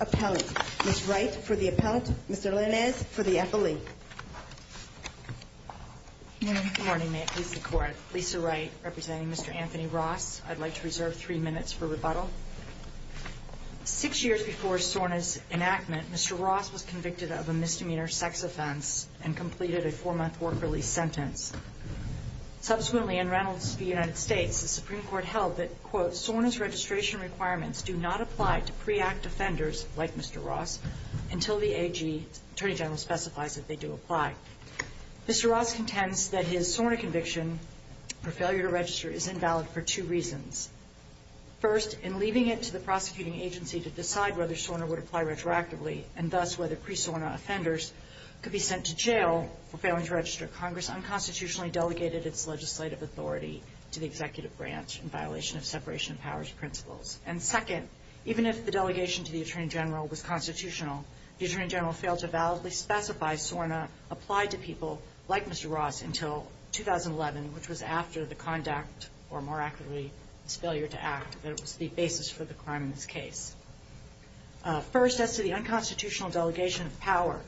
Appellant. Ms. Wright, for the Appellant. Mr. Linares, for the Appellant. Good morning. May it please the Court. Lisa Wright, representing Mr. Anthony Ross. I'd like to reserve three minutes for rebuttal. Six years before SORNA's enactment, Mr. Ross was convicted of a misdemeanor sex offense and completed a four-month work-release sentence. Subsequently, in Reynolds v. United States, the Supreme Court held that, quote, SORNA's registration requirements do not apply to pre-act offenders, like Mr. Ross, until the AG Attorney General specifies that they do apply. Mr. Ross contends that his SORNA conviction for failure to register is invalid for two reasons. First, in leaving it to the prosecuting agency to decide whether SORNA would apply retroactively, and thus whether pre-SORNA offenders could be sent to jail for failing to register, Congress unconstitutionally delegated its legislative authority to the executive branch in violation of separation of powers principles. And second, even if the delegation to the Attorney General was constitutional, the Attorney General failed to validly specify SORNA applied to people like Mr. Ross until 2011, which was after the conduct, or more accurately, this failure to act, that was the basis for the crime in this case. First, as to the unconstitutional delegation of power,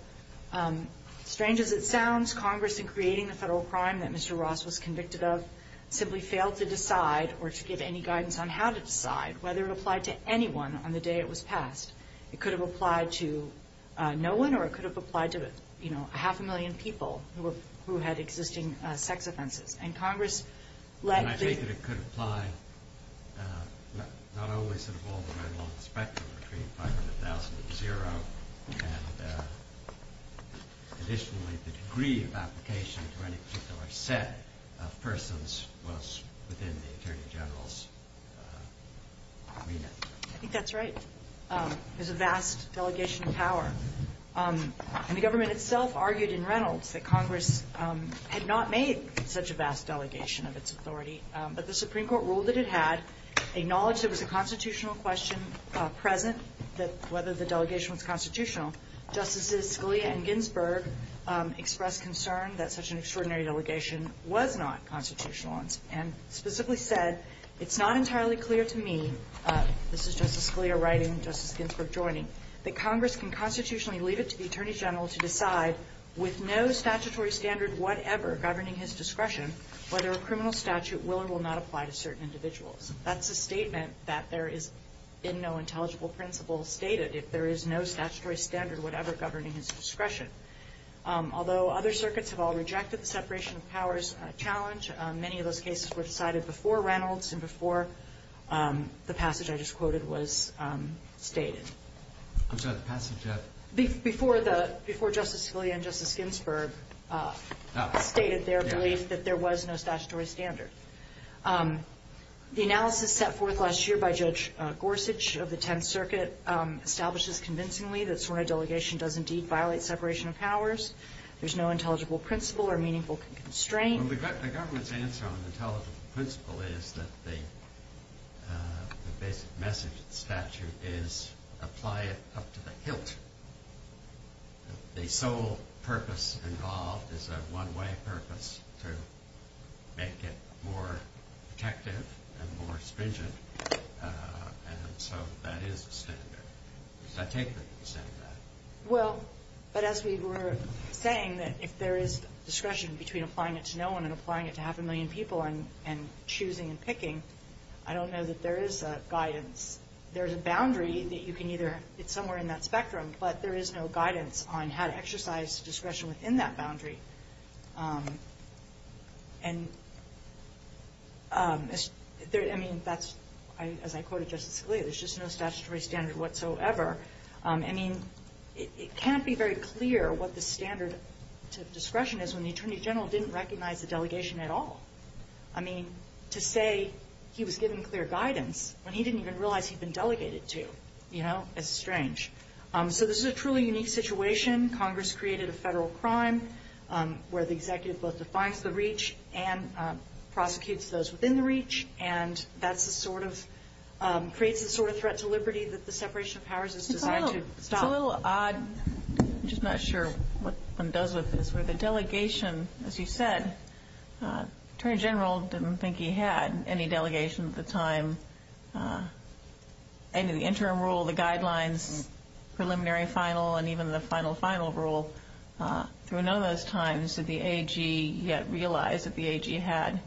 strange as it sounds, Congress, in creating the Federal crime that Mr. Ross was convicted of, simply failed to decide or to give any guidance on how to decide whether it applied to anyone on the day it was passed. It could have applied to no one, or it could have applied to, you know, a half a million people who had existing sex offenses. And Congress let the ---- not always involved a very long spectrum between 500,000 to zero, and additionally, the degree of application to any particular set of persons was within the Attorney General's remit. I think that's right. There's a vast delegation of power. And the government itself argued in Reynolds that Congress had not made such a vast delegation of its authority, but the Supreme Court ruled that it had, acknowledged there was a constitutional question present that whether the delegation was constitutional. Justices Scalia and Ginsburg expressed concern that such an extraordinary delegation was not constitutional, and specifically said, it's not entirely clear to me, this is Justice Scalia writing, Justice Ginsburg joining, that Congress can constitutionally leave it to the Attorney General to decide, with no statutory standard whatever governing his discretion, whether a criminal statute will or will not apply to certain individuals. That's a statement that there is in no intelligible principle stated, if there is no statutory standard whatever governing his discretion. Although other circuits have all rejected the separation of powers challenge, many of those cases were decided before Reynolds and before the passage I just quoted was stated. I'm sorry, the passage of? Before the, before Justice Scalia and Justice Ginsburg stated their belief that there was no statutory standard. The analysis set forth last year by Judge Gorsuch of the Tenth Circuit establishes convincingly that sworn delegation does indeed violate separation of powers. There's no intelligible principle or meaningful constraint. Well, the government's answer on the intelligible principle is that the basic message of the statute is, apply it up to the hilt. The sole purpose involved is a one-way purpose to make it more protective and more stringent, and so that is a standard. Does that take the extent of that? Well, but as we were saying that if there is discretion between applying it to no one and applying it to half a million people and choosing and picking, I don't know that there is a guidance. There's a boundary that you can either, it's somewhere in that spectrum, but there is no guidance on how to exercise discretion within that boundary. And there, I mean, that's, as I quoted Justice Scalia, there's just no statutory standard whatsoever. I mean, it can't be very clear what the standard to discretion is when the Attorney General didn't recognize the delegation at all. I mean, to say he was given clear guidance when he didn't even realize he'd been delegated to, you know, it's strange. So this is a truly unique situation. Congress created a federal crime where the executive both defines the reach and prosecutes those within the reach, and that's the sort of, creates the sort of threat to liberty that the separation of powers is designed to stop. It's a little odd, I'm just not sure what one does with this, where the delegation, as you said, Attorney General didn't think he had any delegation at the time. And the interim rule, the guidelines, preliminary, final, and even the final, final rule, through none of those times did the AG yet realize that the AG had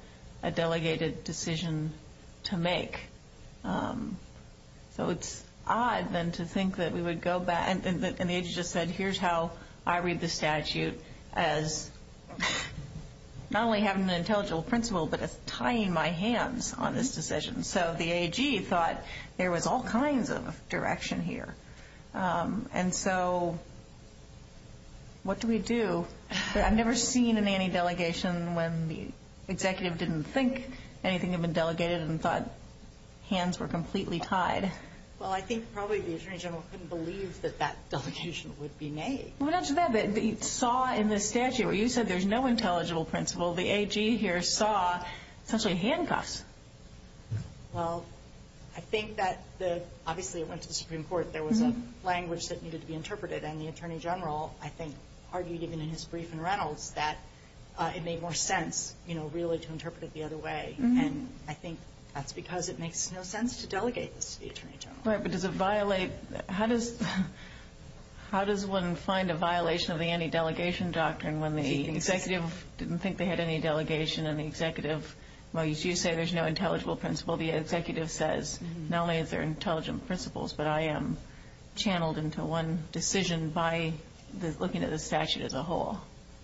a delegated decision to make. So it's odd, then, to think that we would go back, and the AG just said, here's how I read the statute as not only having an intelligible principle, but as tying my hands on this decision. So the AG thought there was all kinds of direction here. And so what do we do? I've never seen an anti-delegation when the executive didn't think anything had been delegated and thought hands were completely tied. Well, I think probably the Attorney General couldn't believe that that delegation would be made. Well, not to that, but you saw in the statute, where you said there's no intelligible principle, the AG here saw essentially handcuffs. Well, I think that the, obviously it went to the Supreme Court, there was a language that needed to be interpreted, and the Attorney General, I think, argued even in his brief in Reynolds that it made more sense, you know, really to interpret it the other way. And I think that's because it makes no sense to delegate this to the Attorney General. Right, but does it violate, how does one find a violation of the anti-delegation doctrine when the executive didn't think they had any delegation and the executive, well, you say there's no intelligible principle, the executive says, not only is there intelligent principles, but I am channeled into one decision by looking at the statute as a whole.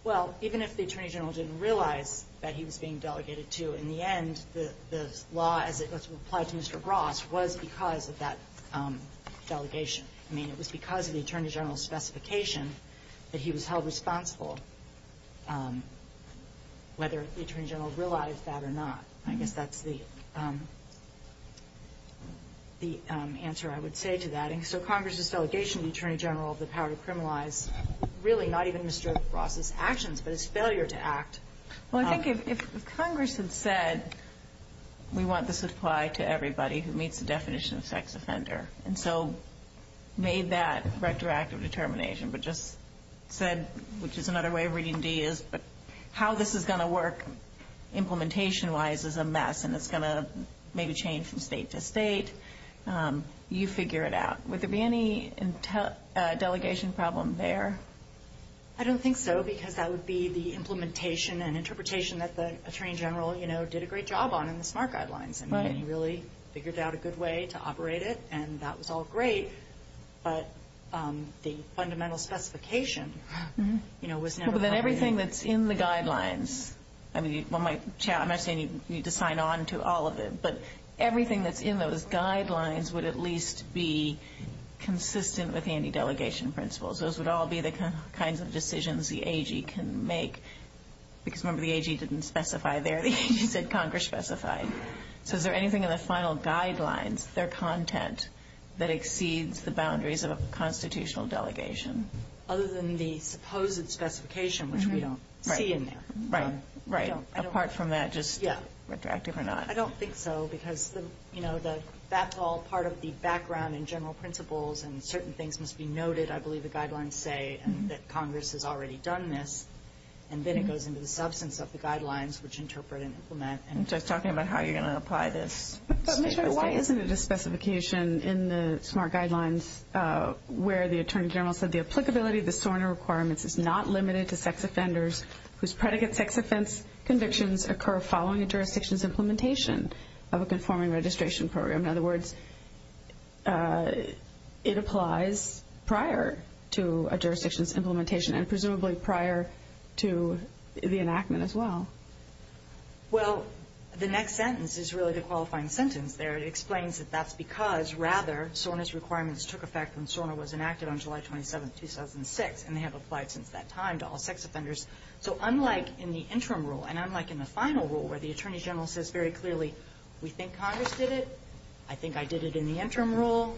Well, even if the Attorney General didn't realize that he was being delegated to, in the end, the law as it was applied to Mr. Bross was because of that delegation. I mean, it was because of the Attorney General's specification that he was held responsible, whether the Attorney General realized that or not. I guess that's the answer I would say to that. And so Congress's delegation to the Attorney General of the power to criminalize really not even Mr. Bross's actions, but his failure to act. Well, I think if Congress had said, we want this to apply to everybody who meets the definition of sex offender, and so made that retroactive determination, but just said, which is another way of reading D is, but how this is going to work implementation-wise is a mess, and it's going to maybe change from state to state, you figure it out. Would there be any delegation problem there? I don't think so, because that would be the implementation and interpretation that the Attorney General did a great job on in the SMART Guidelines, and really figured out a good way to operate it, and that was all great, but the fundamental specification was never provided. But then everything that's in the Guidelines, I mean, when my chair, I'm not saying you need to sign on to all of it, but everything that's in those Guidelines would at least be consistent with any delegation principles. Those would all be the kinds of decisions the AG can make, because remember the AG didn't specify there. The AG said Congress specified. So is there anything in the final Guidelines, their content, that exceeds the boundaries of a constitutional delegation? Other than the supposed specification, which we don't see in there. Right, right. Apart from that, just retroactive or not. I don't think so, because that's all part of the background and general principles, and certain things must be noted, I believe the Guidelines say, and that Congress has already done this. And then it goes into the substance of the Guidelines, which interpret and implement. So it's talking about how you're going to apply this. But, Michelle, why isn't it a specification in the SMART Guidelines where the Attorney General said, the applicability of the SORNA requirements is not limited to sex offenders whose predicate sex offense convictions occur following a jurisdiction's implementation of a conforming registration program. In other words, it applies prior to a jurisdiction's implementation and presumably prior to the enactment as well. Well, the next sentence is really the qualifying sentence there. It explains that that's because, rather, SORNA's requirements took effect when SORNA was enacted on July 27, 2006, and they have applied since that time to all sex offenders. So unlike in the interim rule, and unlike in the final rule, where the Attorney General says very clearly, we think Congress did it, I think I did it in the interim rule,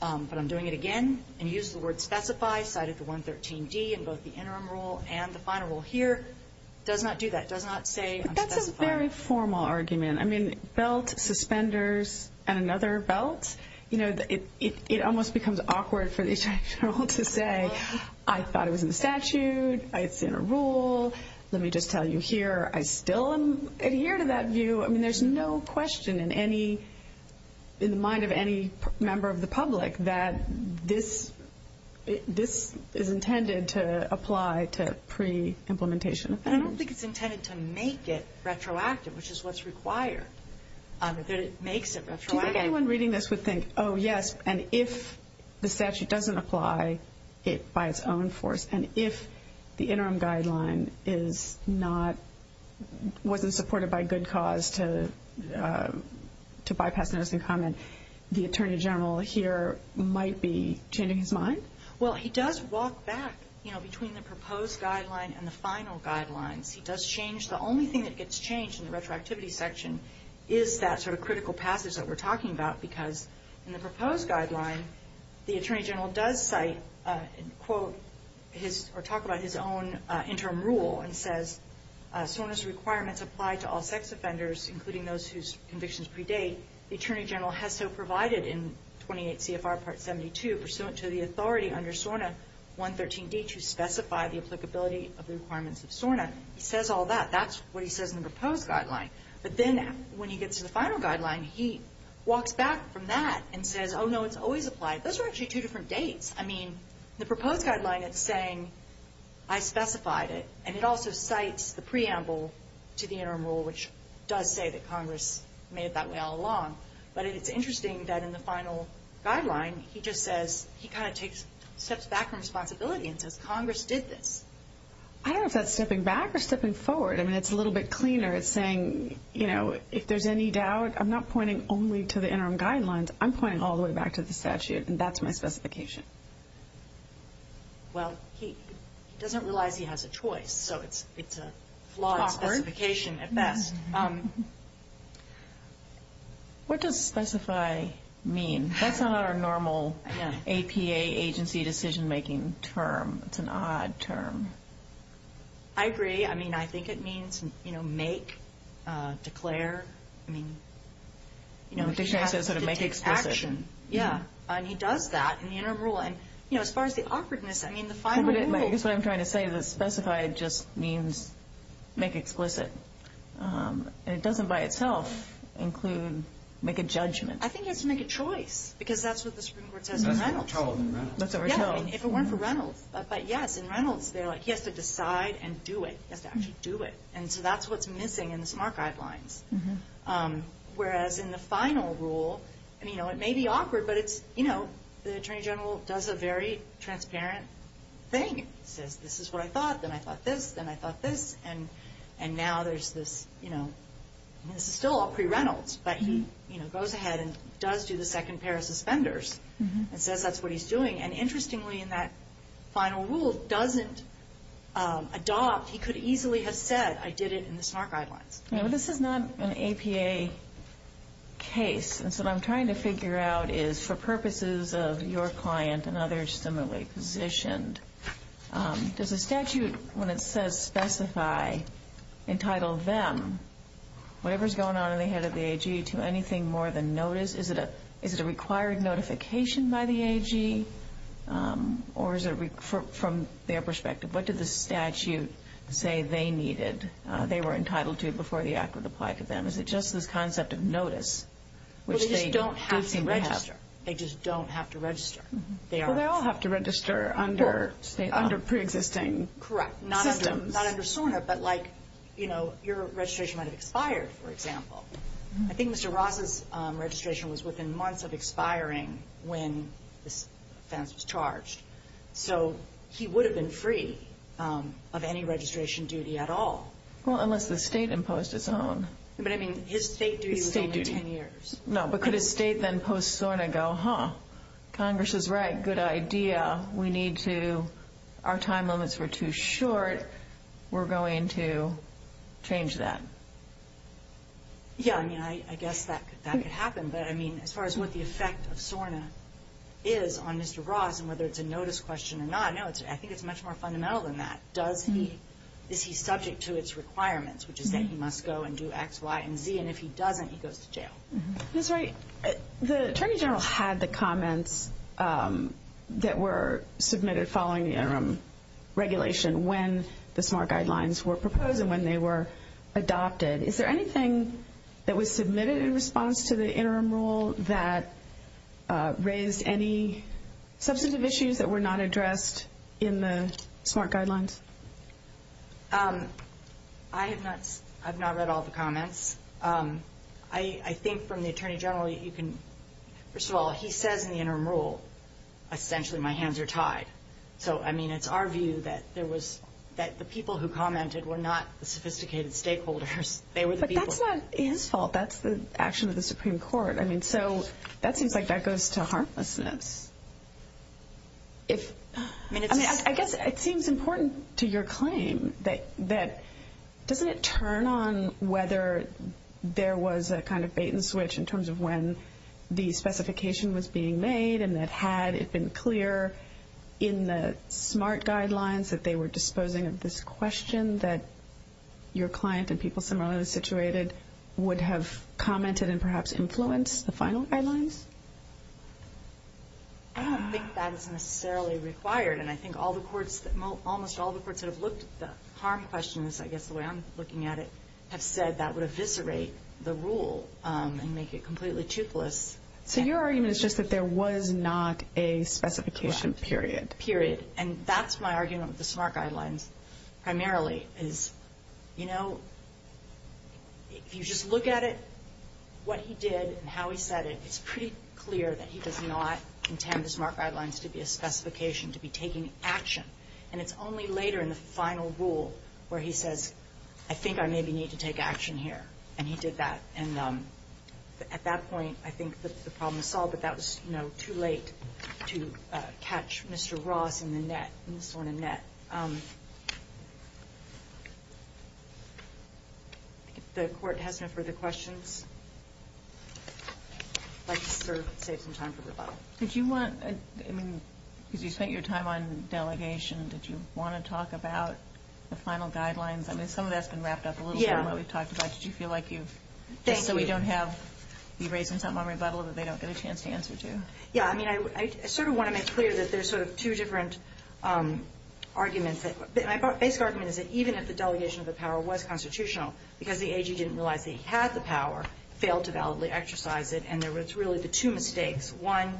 but I'm doing it again, and used the word specify, cited the 113D in both the interim rule and the final rule here, it does not do that. It does not say I'm specifying. But that's a very formal argument. I mean, belt, suspenders, and another belt, you know, it almost becomes awkward for the Attorney General to say, I thought it was in the statute, it's in a rule, let me just tell you here, I still adhere to that view. I mean, there's no question in the mind of any member of the public that this is intended to apply to pre-implementation offenders. I don't think it's intended to make it retroactive, which is what's required, that it makes it retroactive. Do you think anyone reading this would think, oh, yes, and if the statute doesn't apply it by its own force, and if the interim guideline wasn't supported by good cause to bypass the notice and comment, the Attorney General here might be changing his mind? Well, he does walk back, you know, between the proposed guideline and the final guidelines. He does change. The only thing that gets changed in the retroactivity section is that sort of critical passage that we're talking about because in the proposed guideline, the Attorney General does cite or talk about his own interim rule and says SORNA's requirements apply to all sex offenders, including those whose convictions predate. The Attorney General has so provided in 28 CFR Part 72, pursuant to the authority under SORNA 113D to specify the applicability of the requirements of SORNA. He says all that. That's what he says in the proposed guideline. But then when he gets to the final guideline, he walks back from that and says, Oh, no, it's always applied. Those are actually two different dates. I mean, the proposed guideline, it's saying I specified it, and it also cites the preamble to the interim rule, which does say that Congress made it that way all along. But it's interesting that in the final guideline, he just says he kind of steps back from responsibility and says Congress did this. I don't know if that's stepping back or stepping forward. I mean, it's a little bit cleaner. It's saying, you know, if there's any doubt, I'm not pointing only to the interim guidelines. I'm pointing all the way back to the statute, and that's my specification. Well, he doesn't realize he has a choice, so it's a flawed specification at best. What does specify mean? That's not our normal APA agency decision-making term. It's an odd term. I agree. I mean, I think it means, you know, make, declare. I mean, you know, he has to take action. Yeah, and he does that in the interim rule. And, you know, as far as the awkwardness, I mean, the final rule. I guess what I'm trying to say is that specify just means make explicit, and it doesn't by itself include make a judgment. I think he has to make a choice, because that's what the Supreme Court says in Reynolds. That's what we're told in Reynolds. Yeah, if it weren't for Reynolds. But, yes, in Reynolds, they're like, he has to decide and do it. He has to actually do it. And so that's what's missing in the SMART guidelines. Whereas in the final rule, I mean, you know, it may be awkward, but it's, you know, the Attorney General does a very transparent thing. He says, this is what I thought, then I thought this, then I thought this. And now there's this, you know, this is still all pre-Reynolds, but he goes ahead and does do the second pair of suspenders and says that's what he's doing. And interestingly, in that final rule, doesn't adopt. He could easily have said, I did it in the SMART guidelines. Yeah, but this is not an APA case. And so what I'm trying to figure out is, for purposes of your client and others similarly positioned, does a statute, when it says specify, entitle them, whatever's going on in the head of the AG, to anything more than notice? Is it a required notification by the AG, or is it from their perspective? What did the statute say they needed, they were entitled to before the act would apply to them? Is it just this concept of notice? Well, they just don't have to register. They just don't have to register. Well, they all have to register under pre-existing systems. Correct. Not under SORNA, but like, you know, your registration might have expired, for example. I think Mr. Ross's registration was within months of expiring when this offense was charged. So he would have been free of any registration duty at all. Well, unless the state imposed its own. But I mean, his state duty was only 10 years. No, but could a state then post SORNA go, huh, Congress is right, good idea, we need to, our time limits were too short, we're going to change that? Yeah, I mean, I guess that could happen, but I mean, as far as what the effect of SORNA is on Mr. Ross and whether it's a notice question or not, no, I think it's much more fundamental than that. Does he, is he subject to its requirements, which is that he must go and do X, Y, and Z, and if he doesn't, he goes to jail. That's right. The Attorney General had the comments that were submitted following the interim regulation when the SMART guidelines were proposed and when they were adopted. Is there anything that was submitted in response to the interim rule that raised any substantive issues that were not addressed in the SMART guidelines? I have not read all the comments. I think from the Attorney General, you can, first of all, he says in the interim rule, essentially my hands are tied. So, I mean, it's our view that there was, that the people who commented were not the sophisticated stakeholders. They were the people... But that's not his fault. That's the action of the Supreme Court. I mean, so that seems like that goes to harmlessness. I mean, it's... I guess it seems important to your claim that doesn't it turn on whether there was a kind of bait-and-switch in terms of when the specification was being made and that had it been clear in the SMART guidelines that they were disposing of this question that your client and people similarly situated would have commented and perhaps influenced the final guidelines? I don't think that's necessarily required. And I think all the courts, almost all the courts that have looked at the harm questions, I guess the way I'm looking at it, have said that would eviscerate the rule and make it completely toothless. So your argument is just that there was not a specification period. And that's my argument with the SMART guidelines primarily, is, you know, if you just look at it, what he did and how he said it, it's pretty clear that he does not intend the SMART guidelines to be a specification, to be taking action. And it's only later in the final rule where he says, I think I maybe need to take action here. And he did that. And at that point, I think the problem is solved, but that was, you know, too late to catch Mr. Ross in the net, in this one, in net. If the court has no further questions, I'd like to sort of save some time for rebuttal. Did you want, I mean, because you spent your time on delegation, did you want to talk about the final guidelines? I mean, some of that's been wrapped up a little bit in what we've talked about. Did you feel like you've, just so we don't have to be raising something on rebuttal that they don't get a chance to answer to? Yeah, I mean, I sort of want to make clear that there's sort of two different arguments. My basic argument is that even if the delegation of the power was constitutional, because the AG didn't realize that he had the power, failed to validly exercise it, and there was really the two mistakes. One,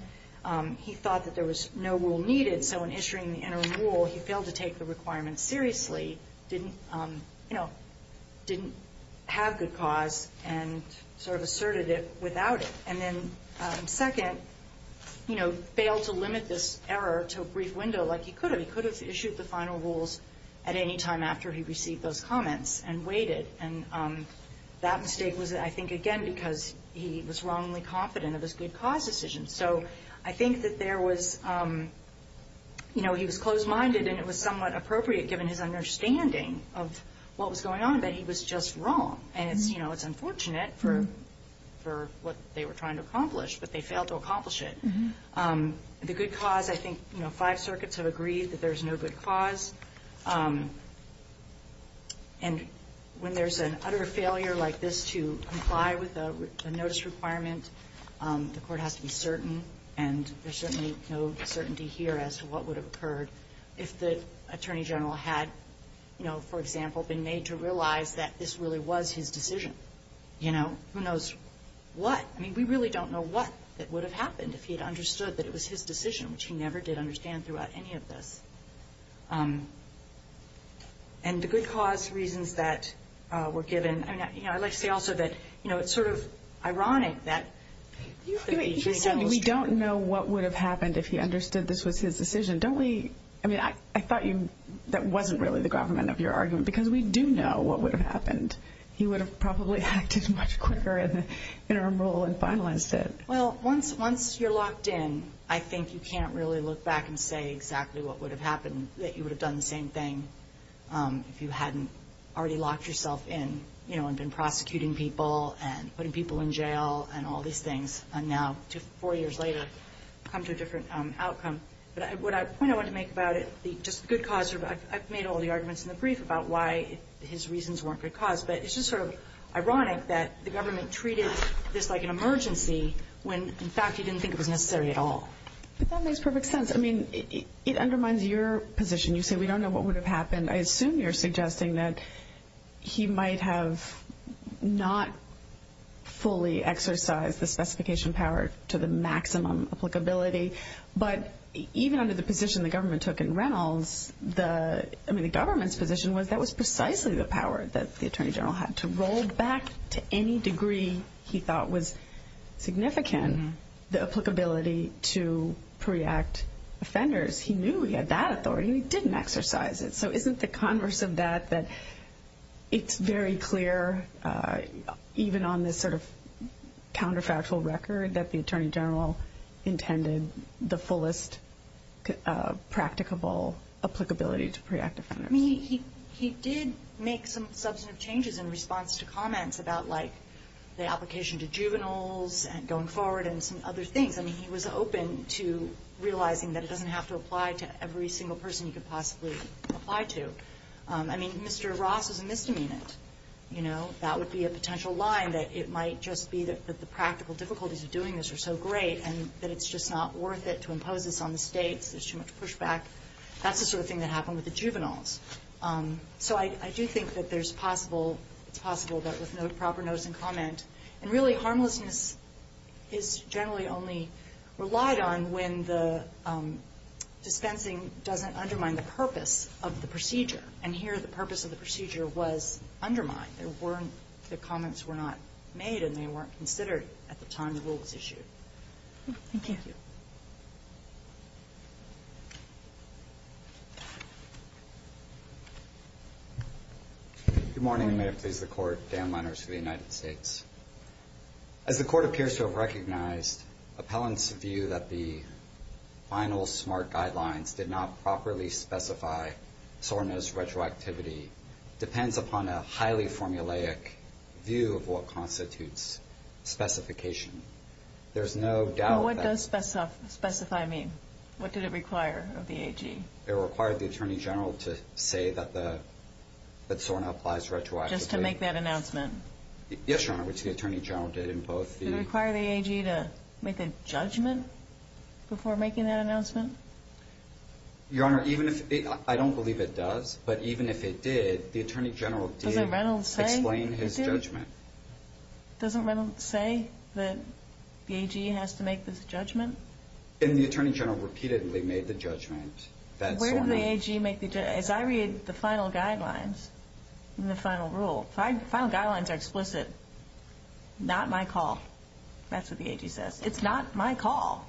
he thought that there was no rule needed, so in issuing the interim rule, he failed to take the requirements seriously, didn't, you know, didn't have good cause, and sort of asserted it without it. And then second, you know, failed to limit this error to a brief window like he could have. He could have issued the final rules at any time after he received those comments and waited, and that mistake was, I think, again, because he was wrongly confident of his good cause decision. So I think that there was, you know, he was closed-minded, and it was somewhat appropriate, given his understanding of what was going on, that he was just wrong. And it's, you know, it's unfortunate for what they were trying to accomplish, but they failed to accomplish it. The good cause, I think, you know, five circuits have agreed that there's no good cause. And when there's an utter failure like this to comply with a notice requirement, the Court has to be certain, and there's certainly no certainty here as to what would have occurred if the Attorney General had, you know, for example, been made to realize that this really was his decision. You know, who knows what? I mean, we really don't know what that would have happened if he had understood that it was his decision, which he never did understand throughout any of this. And the good cause reasons that were given, you know, I'd like to say also that, you know, it's sort of ironic that the Attorney General was wrong. You said we don't know what would have happened if he understood this was his decision. Don't we, I mean, I thought you, that wasn't really the government of your argument, because we do know what would have happened. He would have probably acted much quicker in the interim rule and finalized it. Well, once you're locked in, I think you can't really look back and say exactly what would have happened, that you would have done the same thing if you hadn't already locked yourself in, you know, and been prosecuting people and putting people in jail and all these things. And now, four years later, come to a different outcome. But the point I want to make about it, just the good cause, I've made all the arguments in the brief about why his reasons weren't good cause, but it's just sort of ironic that the government treated this like an emergency when, in fact, he didn't think it was necessary at all. But that makes perfect sense. I mean, it undermines your position. You say we don't know what would have happened. I assume you're suggesting that he might have not fully exercised the specification power to the maximum applicability, but even under the position the government took in Reynolds, I mean, the government's position was that was precisely the power that the attorney general had to roll back to any degree he thought was significant the applicability to pre-act offenders. He knew he had that authority, and he didn't exercise it. So isn't the converse of that that it's very clear, even on this sort of counterfactual record, that the attorney general intended the fullest practicable applicability to pre-act offenders? I mean, he did make some substantive changes in response to comments about, like, the application to juveniles and going forward and some other things. I mean, he was open to realizing that it doesn't have to apply to every single person he could possibly apply to. I mean, Mr. Ross is a misdemeanor. You know, that would be a potential line that it might just be that the practical difficulties of doing this are so great and that it's just not worth it to impose this on the States. There's too much pushback. That's the sort of thing that happened with the juveniles. So I do think that there's possible it's possible that with no proper notes and comment and really, harmlessness is generally only relied on when the dispensing doesn't undermine the purpose of the procedure. And here, the purpose of the procedure was undermined. There weren't the comments were not made and they weren't considered at the time the rule was issued. Thank you. Good morning. May it please the court. Dan Lenners for the United States. As the court appears to have recognized appellant's view that the final SMART guidelines did not properly specify SORNA's retroactivity depends upon a highly formulaic view of what constitutes specification. There's no doubt that... What does specify mean? What did it require of the AG? It required the Attorney General to say that the that SORNA applies retroactively. Just to make that announcement? Yes, Your Honor, which the Attorney General did in both the... Did it require the AG to make a judgment before making that announcement? Your Honor, even if... I don't believe it does, but even if it did, the Attorney General did explain his judgment. Doesn't Reynolds say that the AG has to make this judgment? And the Attorney General repeatedly made the judgment that SORNA... Where did the AG make the... As I read the final guidelines in the final rule, final guidelines are explicit. Not my call. That's what the AG says. It's not my call.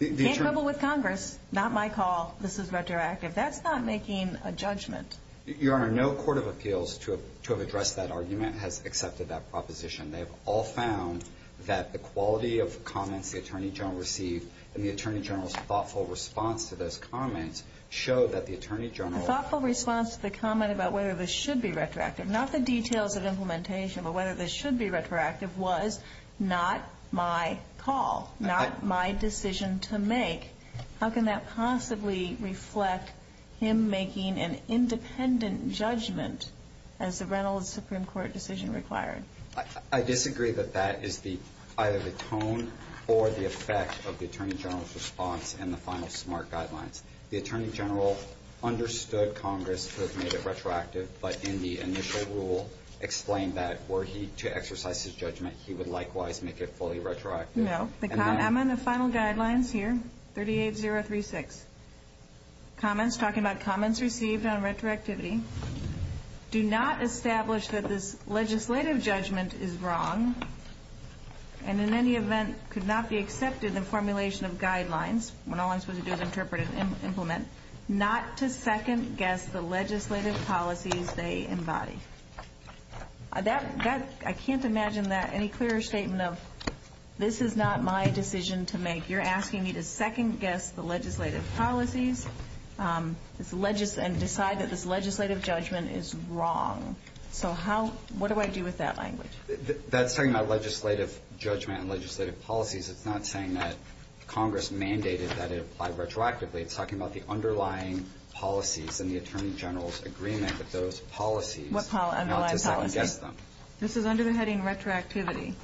Can't quibble with Congress. Not my call. This is retroactive. That's not making a judgment. Your Honor, no court of appeals to have addressed that argument has accepted that proposition. They've all found that the quality of comments the Attorney General received and the Attorney General's thoughtful response to those comments show that the Attorney General... The thoughtful response to the comment about whether this should be retroactive, not the details of implementation, but whether this should be retroactive was not my call, not my decision to make. How can that possibly reflect him making an independent judgment as the Reynolds Supreme Court decision required? I disagree that that is either the tone or the effect of the Attorney General's response and the final SMART guidelines. The Attorney General understood Congress had made it retroactive, but in the initial rule explained that were he to exercise his judgment, he would likewise make it fully retroactive. No. I'm on the final guidelines here, 38036. Comments. Talking about comments received on retroactivity. Do not establish that this legislative judgment is wrong and in any event could not be accepted in formulation of guidelines. When all I'm supposed to do is interpret and implement. Not to second-guess the legislative policies they embody. I can't imagine that any clearer statement of this is not my decision to make. You're asking me to second-guess the legislative policies and decide that this legislative judgment is wrong. So what do I do with that language? That's talking about legislative judgment and legislative policies. It's not saying that Congress mandated that it apply retroactively. It's talking about the underlying policies and the Attorney General's agreement with those policies. What underlying policies? Not to second-guess them. This is under the heading retroactivity.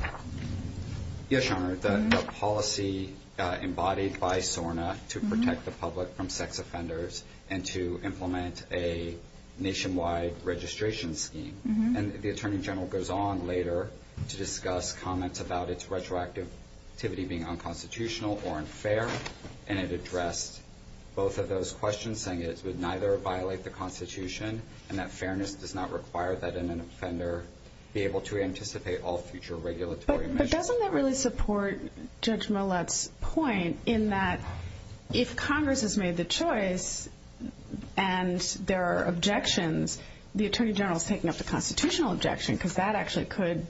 Yes, Your Honor. The policy embodied by SORNA to protect the public from sex offenders and to implement a nationwide registration scheme. And the Attorney General goes on later to discuss comments about its retroactivity being unconstitutional or unfair. And it addressed both of those questions, saying it would neither violate the Constitution and that fairness does not require that an offender be able to anticipate all future regulatory measures. But doesn't that really support Judge Millett's point in that if Congress has made the choice and there are objections, the Attorney General is taking up the constitutional objection because that actually could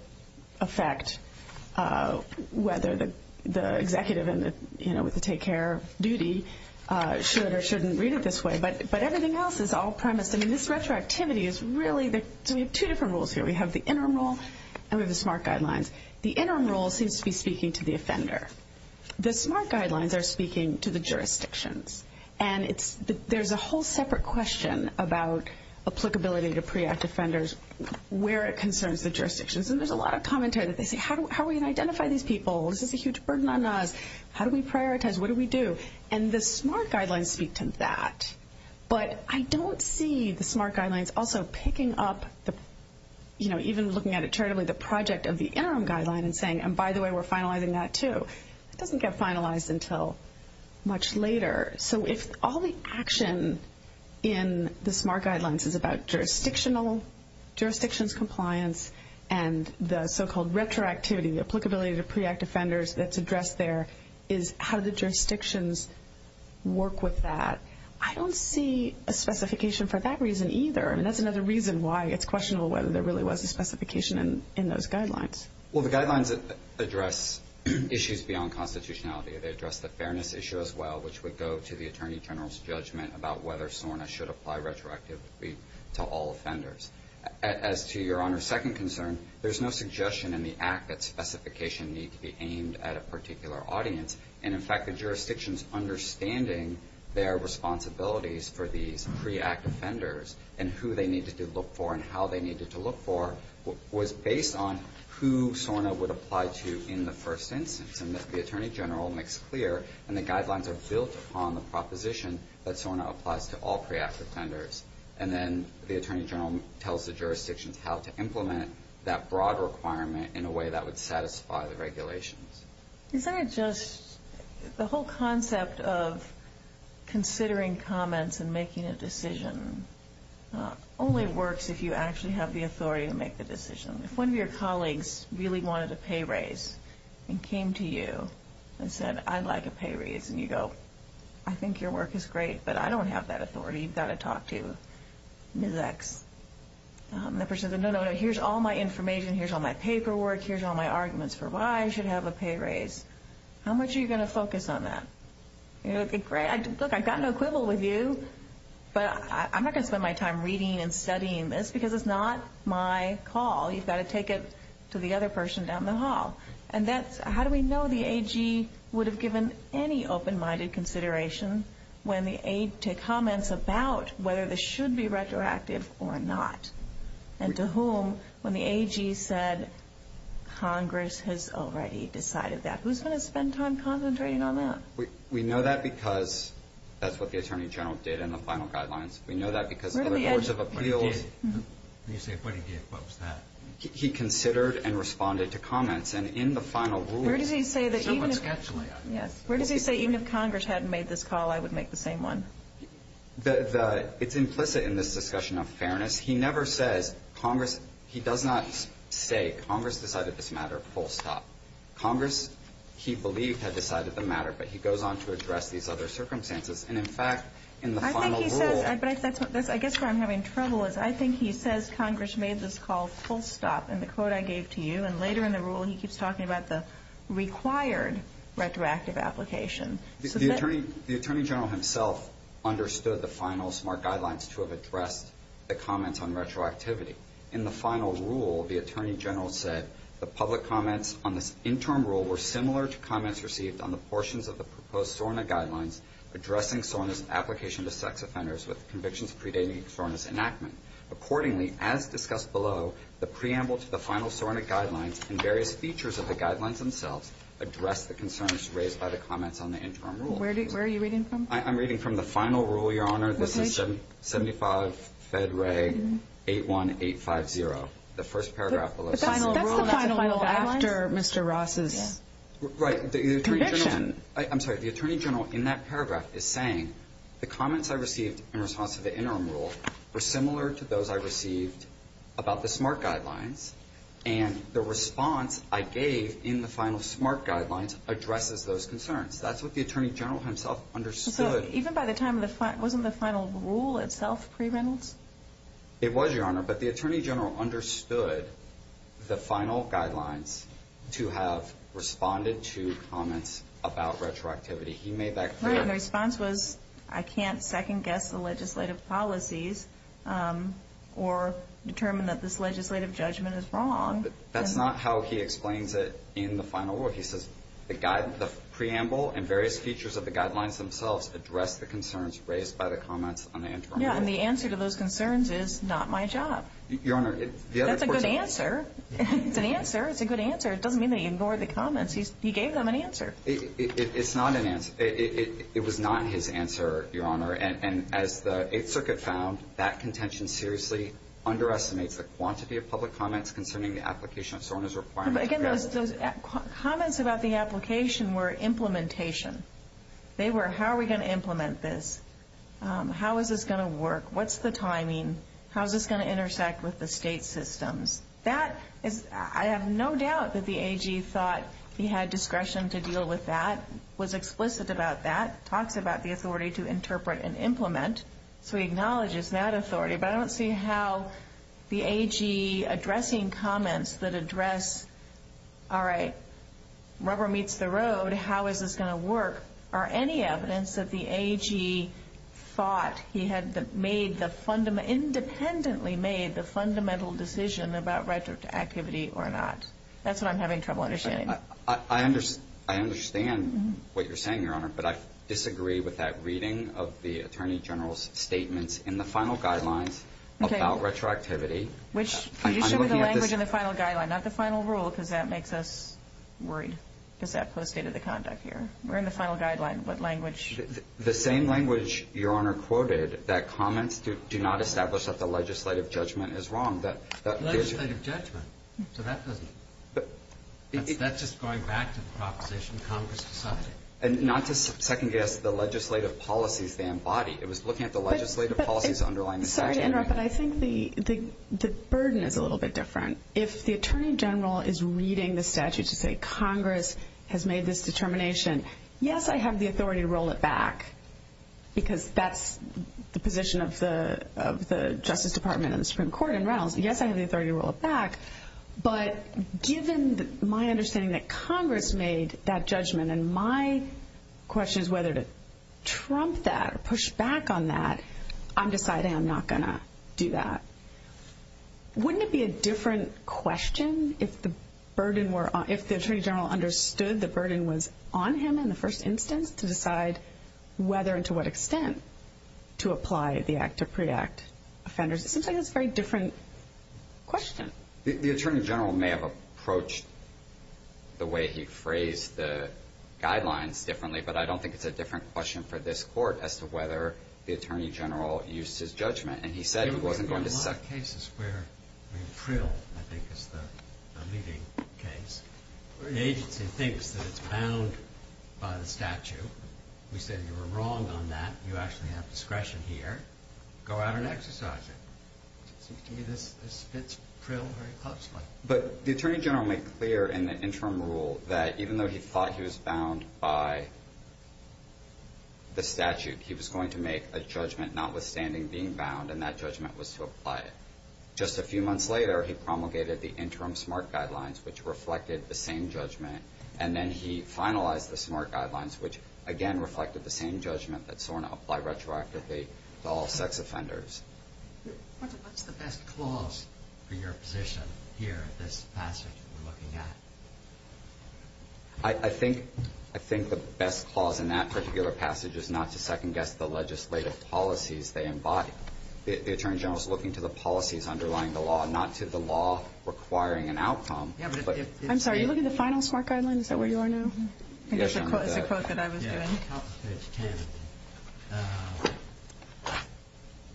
affect whether the executive with the take-care duty should or shouldn't read it this way. But everything else is all premised. I mean, this retroactivity is really the two different rules here. We have the interim rule and we have the SMART guidelines. The interim rule seems to be speaking to the offender. The SMART guidelines are speaking to the jurisdictions. And there's a whole separate question about applicability to pre-act offenders where it concerns the jurisdictions. And there's a lot of commentary that they say, how are we going to identify these people? This is a huge burden on us. How do we prioritize? What do we do? And the SMART guidelines speak to that. But I don't see the SMART guidelines also picking up, even looking at it charitably, the project of the interim guideline and saying, and by the way, we're finalizing that too. It doesn't get finalized until much later. So if all the action in the SMART guidelines is about jurisdictional, jurisdictions compliance, and the so-called retroactivity, the applicability to pre-act offenders that's addressed there, is how the jurisdictions work with that. I don't see a specification for that reason either. I mean, that's another reason why it's questionable whether there really was a specification in those guidelines. Well, the guidelines address issues beyond constitutionality. They address the fairness issue as well, which would go to the Attorney General's judgment about whether SORNA should apply retroactively to all offenders. As to Your Honor's second concern, there's no suggestion in the act that specifications need to be aimed at a particular audience. And in fact, the jurisdictions understanding their responsibilities for these pre-act offenders and who they needed to look for and how they needed to look for was based on who SORNA would apply to in the first instance. And the Attorney General makes clear, and the guidelines are built upon the proposition that SORNA applies to all pre-act offenders. And then the Attorney General tells the jurisdictions how to implement that broad requirement in a way that would satisfy the regulations. Isn't it just the whole concept of considering comments and making a decision only works if you actually have the authority to make the decision? If one of your colleagues really wanted a pay raise and came to you and said, I'd like a pay raise, and you go, I think your work is great, but I don't have that authority. You've got to talk to Ms. X. And the person says, no, no, no, here's all my information, here's all my paperwork, here's all my arguments for why I should have a pay raise. How much are you going to focus on that? Look, I've got no quibble with you, but I'm not going to spend my time reading and studying this because it's not my call. You've got to take it to the other person down the hall. And how do we know the AG would have given any open-minded consideration to comments about whether this should be retroactive or not? And to whom, when the AG said, Congress has already decided that. Who's going to spend time concentrating on that? We know that because that's what the Attorney General did in the final guidelines. We know that because of the Boards of Appeals. When you say what he did, what was that? He considered and responded to comments, and in the final ruling... Where does he say that even if... Where does he say, even if Congress hadn't made this call, I would make the same one? It's implicit in this discussion of fairness. He never says Congress... He does not say, Congress decided this matter full stop. Congress, he believed, had decided the matter, but he goes on to address these other circumstances. And, in fact, in the final rule... I think he says... I guess where I'm having trouble is I think he says Congress made this call full stop in the quote I gave to you, and later in the rule he keeps talking about the required retroactive application. The Attorney General himself understood the final SMART guidelines to have addressed the comments on retroactivity. In the final rule, the Attorney General said the public comments on this interim rule were similar to comments received on the portions of the proposed SORNA guidelines addressing SORNA's application to sex offenders with convictions predating SORNA's enactment. Accordingly, as discussed below, the preamble to the final SORNA guidelines and various features of the guidelines themselves address the concerns raised by the comments on the interim rule. Where are you reading from? I'm reading from the final rule, Your Honor. This is 75 Fed Ray 81850. The first paragraph below says... But that's the final rule after Mr. Ross's conviction. Right. The Attorney General... I'm sorry. The Attorney General in that paragraph is saying the comments I received in response to the interim rule were similar to those I received about the SMART guidelines, and the response I gave in the final SMART guidelines addresses those concerns. That's what the Attorney General himself understood. So even by the time of the... Wasn't the final rule itself pre-Reynolds? It was, Your Honor, but the Attorney General understood the final guidelines to have responded to comments about retroactivity. He made that clear. Right, and the response was, I can't second-guess the legislative policies or determine that this legislative judgment is wrong. That's not how he explains it in the final rule. He says the preamble and various features of the guidelines themselves address the concerns raised by the comments on the interim rule. Yeah, and the answer to those concerns is, not my job. Your Honor, the other person... That's a good answer. It's an answer. It's a good answer. It doesn't mean that he ignored the comments. He gave them an answer. It's not an answer. It was not his answer, Your Honor. And as the Eighth Circuit found, that contention seriously underestimates the quantity of public comments concerning the application of SORNA's requirements. Again, those comments about the application were implementation. They were, how are we going to implement this? How is this going to work? What's the timing? How is this going to intersect with the state systems? I have no doubt that the AG thought he had discretion to deal with that, was explicit about that, talks about the authority to interpret and implement, so he acknowledges that authority. But I don't see how the AG addressing comments that address, all right, rubber meets the road, how is this going to work, or any evidence that the AG thought he had independently made the fundamental decision about retroactivity or not. That's what I'm having trouble understanding. I understand what you're saying, Your Honor, but I disagree with that reading of the Attorney General's statements in the final guidelines about retroactivity. You should read the language in the final guideline, not the final rule, because that makes us worried, because that postdated the conduct here. We're in the final guideline. What language? The same language Your Honor quoted, that comments do not establish that the legislative judgment is wrong. Legislative judgment? So that doesn't, that's just going back to the proposition Congress decided. And not to second-guess the legislative policies they embody. It was looking at the legislative policies underlying the statute. I'm sorry to interrupt, but I think the burden is a little bit different. If the Attorney General is reading the statute to say Congress has made this determination, yes, I have the authority to roll it back, because that's the position of the Justice Department and the Supreme Court and Reynolds. Yes, I have the authority to roll it back, but given my understanding that Congress made that judgment and my question is whether to trump that or push back on that, I'm deciding I'm not going to do that. Wouldn't it be a different question if the burden were, if the Attorney General understood the burden was on him in the first instance to decide whether and to what extent to apply the act to pre-act offenders? It seems like it's a very different question. The Attorney General may have approached the way he phrased the guidelines differently, but I don't think it's a different question for this Court as to whether the Attorney General used his judgment, and he said he wasn't going to suck. There have been a lot of cases where, I mean, Trill, I think, is the leading case. The agency thinks that it's bound by the statute. We said you were wrong on that. You actually have discretion here. Go out and exercise it. It seems to me this fits Trill very closely. But the Attorney General made clear in the interim rule that even though he thought he was bound by the statute, he was going to make a judgment notwithstanding being bound, and that judgment was to apply it. Just a few months later, he promulgated the interim SMART guidelines, which reflected the same judgment. And then he finalized the SMART guidelines, which, again, reflected the same judgment that SORNA applied retroactively to all sex offenders. What's the best clause for your position here at this passage we're looking at? I think the best clause in that particular passage is not to second-guess the legislative policies they embody. The Attorney General is looking to the policies underlying the law, not to the law requiring an outcome. I'm sorry, are you looking at the final SMART guidelines? Is that where you are now? I think it's the quote that I was doing. Yes, top of page 10.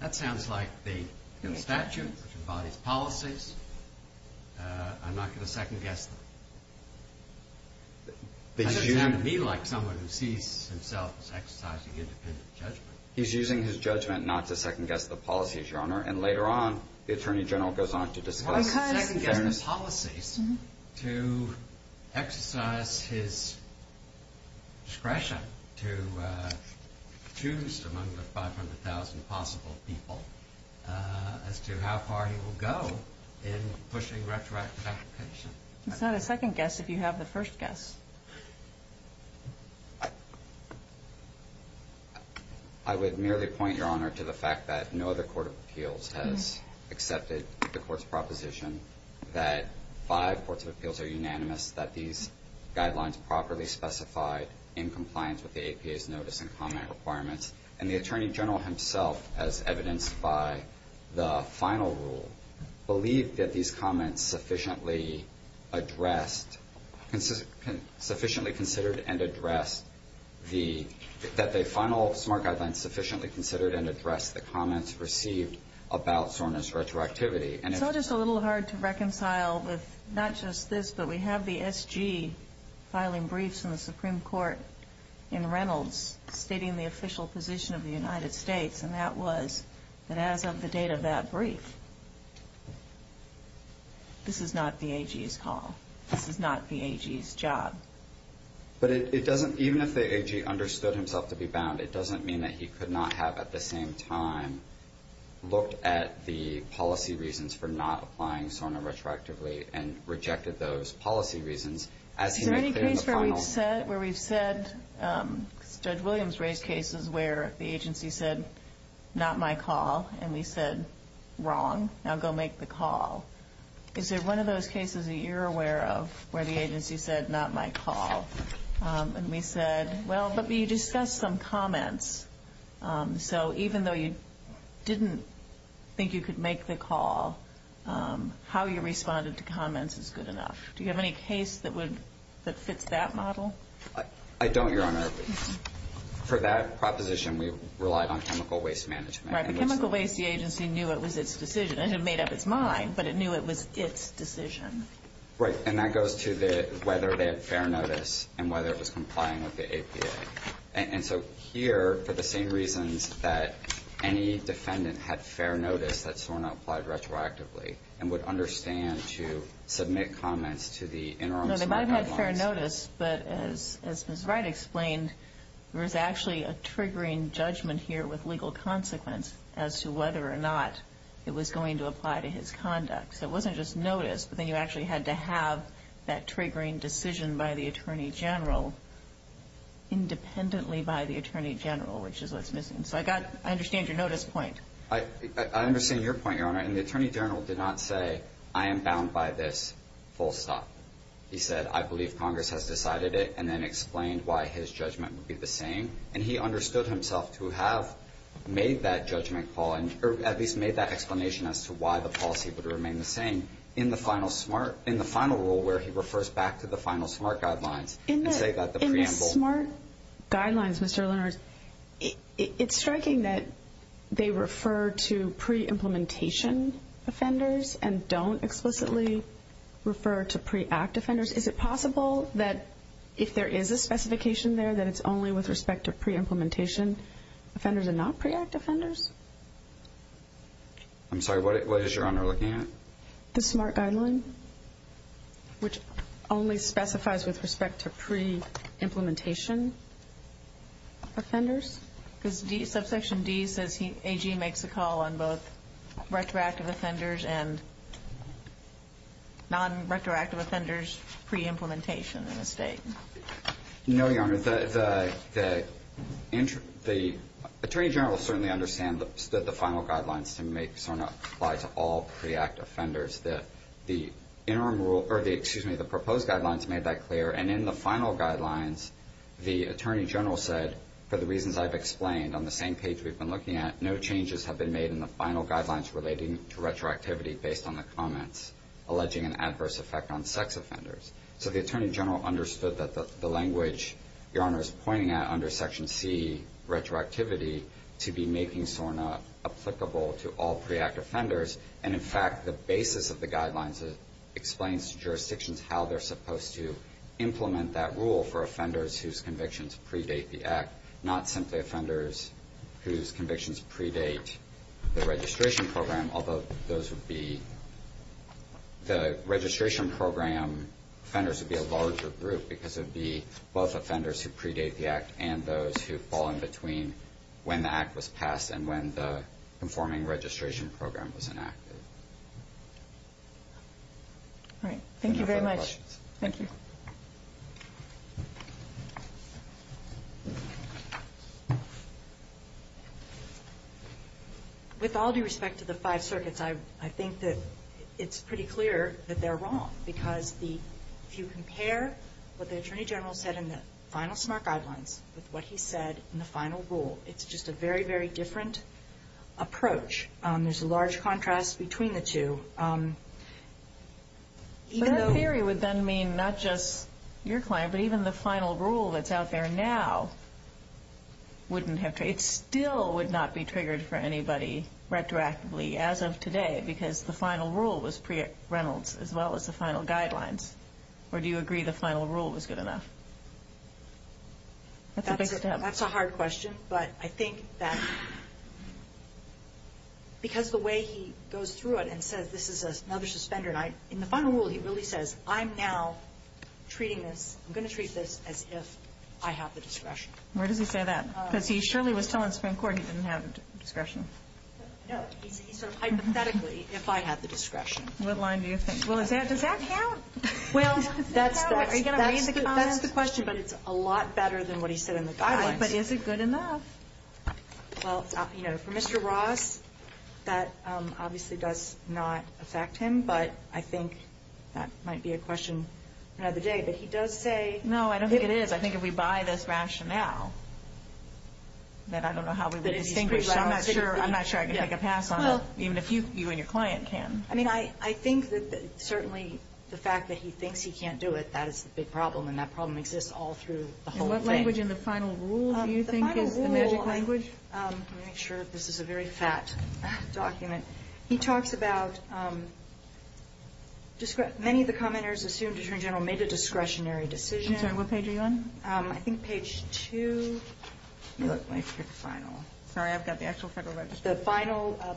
That sounds like the statute, which embodies policies. I'm not going to second-guess them. It doesn't sound to me like someone who sees himself as exercising independent judgment. He's using his judgment not to second-guess the policies, Your Honor. And later on, the Attorney General goes on to discuss second-guessing policies to exercise his discretion to choose among the 500,000 possible people as to how far he will go in pushing retroactive application. It's not a second-guess if you have the first-guess. I would merely point, Your Honor, to the fact that no other court of appeals has accepted the Court's proposition that five courts of appeals are unanimous, that these guidelines properly specify in compliance with the APA's notice and comment requirements. And the Attorney General himself, as evidenced by the final rule, believed that these comments sufficiently addressed, sufficiently considered and addressed the – that the final SMART guidelines sufficiently considered and addressed the comments received about Sorna's retroactivity. It's all just a little hard to reconcile with not just this, but we have the S.G. filing briefs in the Supreme Court in Reynolds stating the official position of the United States, and that was that as of the date of that brief, this is not the A.G.'s call. This is not the A.G.'s job. But it doesn't – even if the A.G. understood himself to be bound, it doesn't mean that he could not have, at the same time, looked at the policy reasons for not applying Sorna retroactively and rejected those policy reasons as he made clear in the final. Is there any case where we've said – Judge Williams raised cases where the agency said, not my call, and we said, wrong, now go make the call. Is there one of those cases that you're aware of where the agency said, not my call, and we said, well, but you discussed some comments. So even though you didn't think you could make the call, how you responded to comments is good enough. Do you have any case that fits that model? I don't, Your Honor. For that proposition, we relied on chemical waste management. Right, but chemical waste, the agency knew it was its decision. It had made up its mind, but it knew it was its decision. Right, and that goes to whether they had fair notice and whether it was complying with the APA. And so here, for the same reasons that any defendant had fair notice that Sorna applied retroactively and would understand to submit comments to the interim smart guidelines. No, they might have had fair notice, but as Ms. Wright explained, there was actually a triggering judgment here with legal consequence as to whether or not it was going to apply to his conduct. So it wasn't just notice, but then you actually had to have that triggering decision by the Attorney General independently by the Attorney General, which is what's missing. So I understand your notice point. I understand your point, Your Honor, and the Attorney General did not say, I am bound by this, full stop. He said, I believe Congress has decided it and then explained why his judgment would be the same. And he understood himself to have made that judgment call, or at least made that explanation as to why the policy would remain the same in the final rule where he refers back to the final smart guidelines. In the smart guidelines, Mr. Leonard, it's striking that they refer to pre-implementation offenders and don't explicitly refer to pre-act offenders. Is it possible that if there is a specification there that it's only with respect to pre-implementation offenders and not pre-act offenders? I'm sorry, what is Your Honor looking at? The smart guideline, which only specifies with respect to pre-implementation offenders. Because subsection D says AG makes a call on both retroactive offenders and non-retroactive offenders pre-implementation in the state. No, Your Honor, the Attorney General certainly understands that the final guidelines to make SORNA apply to all pre-act offenders. The interim rule, or excuse me, the proposed guidelines made that clear. And in the final guidelines, the Attorney General said, for the reasons I've explained on the same page we've been looking at, no changes have been made in the final guidelines relating to retroactivity based on the comments alleging an adverse effect on sex offenders. So the Attorney General understood that the language Your Honor is pointing at under section C, retroactivity, to be making SORNA applicable to all pre-act offenders. And in fact, the basis of the guidelines explains to jurisdictions how they're supposed to implement that rule for offenders whose convictions predate the act, not simply offenders whose convictions predate the registration program, although those would be the registration program offenders would be a larger group because it would be both offenders who predate the act and those who fall in between when the act was passed and when the conforming registration program was enacted. All right, thank you very much. Thank you. Thank you. With all due respect to the five circuits, I think that it's pretty clear that they're wrong because if you compare what the Attorney General said in the final SMART guidelines with what he said in the final rule, it's just a very, very different approach. There's a large contrast between the two. But that theory would then mean not just your client, but even the final rule that's out there now wouldn't have to, it still would not be triggered for anybody retroactively as of today because the final rule was pre-Reynolds as well as the final guidelines. Or do you agree the final rule was good enough? That's a hard question, but I think that because the way he goes through it and says this is another suspender and in the final rule he really says, I'm now treating this, I'm going to treat this as if I have the discretion. Where does he say that? Because he surely was telling Supreme Court he didn't have discretion. No, he said hypothetically, if I have the discretion. What line do you think? Well, does that count? Well, that's the question, but it's a lot better than what he said in the guidelines. But is it good enough? Well, you know, for Mr. Ross, that obviously does not affect him, but I think that might be a question another day. But he does say... No, I don't think it is. I think if we buy this rationale that I don't know how we would distinguish, so I'm not sure I can make a pass on it, even if you and your client can. I mean, I think that certainly the fact that he thinks he can't do it, that is the big problem, and that problem exists all through the whole thing. The magic language in the final rule, do you think, is the magic language? Let me make sure this is a very fat document. He talks about many of the commenters assumed Attorney General made a discretionary decision. I'm sorry, what page are you on? I think page 2... Let me look, let me pick the final. Sorry, I've got the actual Federal Register. I don't know.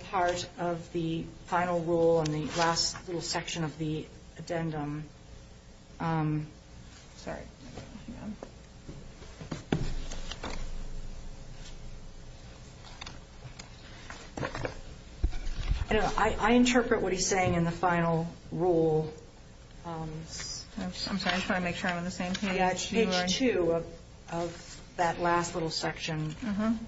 I interpret what he's saying in the final rule. I'm sorry, I just want to make sure I'm on the same page. Page 2 of that last little section.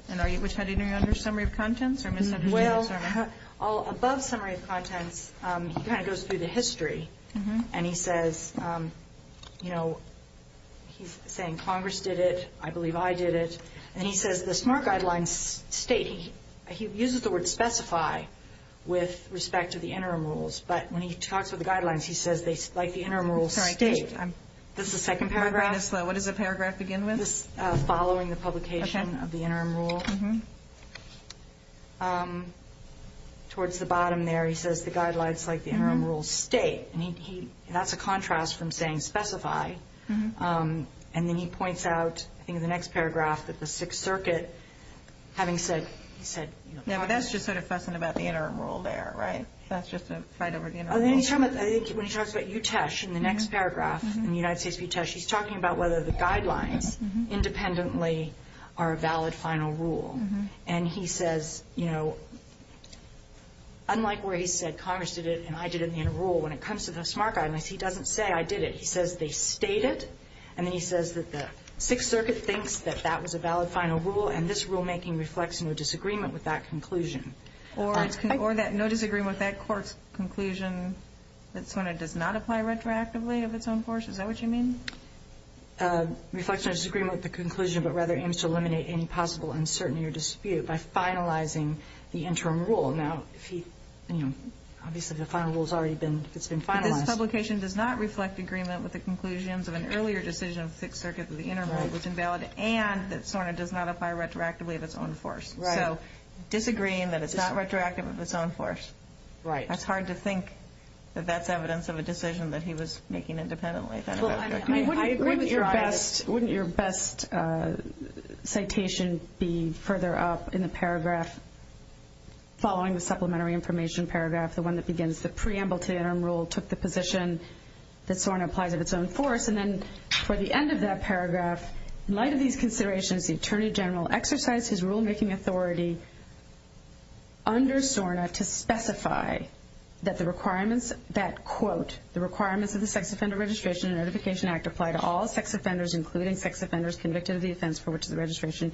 And which heading are you on, summary of contents or misunderstandings? Well, above summary of contents, he kind of goes through the history, and he says, you know, he's saying Congress did it, I believe I did it, and he says the SMART Guidelines state, he uses the word specify with respect to the interim rules, but when he talks about the guidelines, he says they, like the interim rules, state. This is the second paragraph. What does the paragraph begin with? Following the publication of the interim rule. Towards the bottom there, he says the guidelines, like the interim rules, state. And he, that's a contrast from saying specify. And then he points out, I think in the next paragraph, that the Sixth Circuit, having said, he said. Now, that's just sort of fussing about the interim rule there, right? That's just a fight over the interim rule. I think when he talks about UTESH in the next paragraph, in the United States UTESH, he's talking about whether the guidelines independently are a valid final rule. And he says, you know, unlike where he said Congress did it and I did it in the interim rule, when it comes to the SMART Guidelines, he doesn't say I did it. He says they stated. And then he says that the Sixth Circuit thinks that that was a valid final rule, and this rulemaking reflects no disagreement with that conclusion. Or that no disagreement with that court's conclusion, that's when it does not apply retroactively of its own course? Is that what you mean? Reflects no disagreement with the conclusion, but rather aims to eliminate any possible uncertainty or dispute by finalizing the interim rule. Now, if he, you know, obviously the final rule has already been, it's been finalized. This publication does not reflect agreement with the conclusions of an earlier decision of the Sixth Circuit that the interim rule was invalid and that SORNA does not apply retroactively of its own force. Right. So, disagreeing that it's not retroactive of its own force. Right. That's hard to think that that's evidence of a decision that he was making independently. Wouldn't your best citation be further up in the paragraph following the supplementary information paragraph, the one that begins, the preamble to the interim rule took the position that SORNA applies of its own force, and then for the end of that paragraph, in light of these considerations, the Attorney General exercised his rulemaking authority under SORNA to specify that the requirements, that quote, the requirements of the Sex Offender Registration and Notification Act apply to all sex offenders, including sex offenders convicted of the offense for which the registration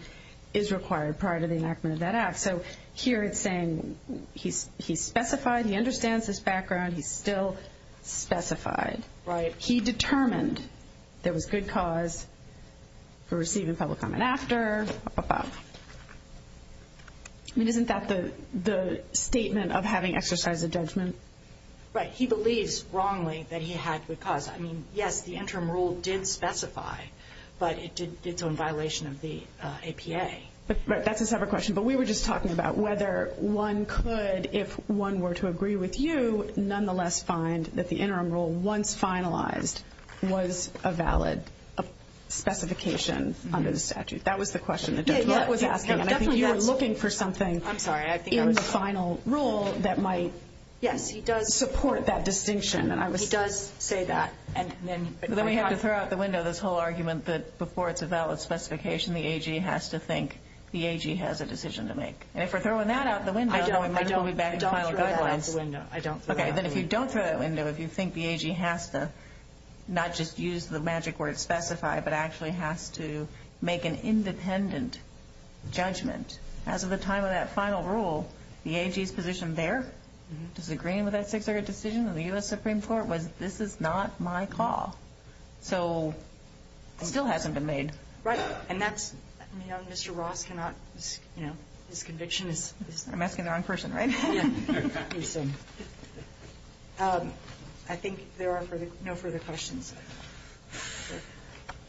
is required prior to the enactment of that act. So, here it's saying he specified, he understands this background, he still specified. Right. He determined there was good cause for receiving public comment after, above. I mean, isn't that the statement of having exercised a judgment? Right. He believes, wrongly, that he had good cause. I mean, yes, the interim rule did specify, but it did so in violation of the APA. Right. That's a separate question. But we were just talking about whether one could, if one were to agree with you, nonetheless find that the interim rule, once finalized, was a valid specification under the statute. That was the question the judge was asking. And I think you were looking for something in the final rule that might support that distinction. He does say that. Then we have to throw out the window this whole argument that before it's a valid specification, the AG has to think the AG has a decision to make. And if we're throwing that out the window, then we might as well be back in the final guidelines. I don't throw that out the window. Okay. Then if you don't throw that out the window, if you think the AG has to not just use the magic word specify, but actually has to make an independent judgment, as of the time of that final rule, the AG's position there, disagreeing with that Sixth Circuit decision of the U.S. Supreme Court, was this is not my call. So it still hasn't been made. Right. And that's, you know, Mr. Ross cannot, you know, his conviction is... I'm asking the wrong person, right? Yeah. I think there are no further questions.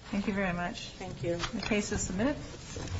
Thank you very much. Thank you. The case is submitted.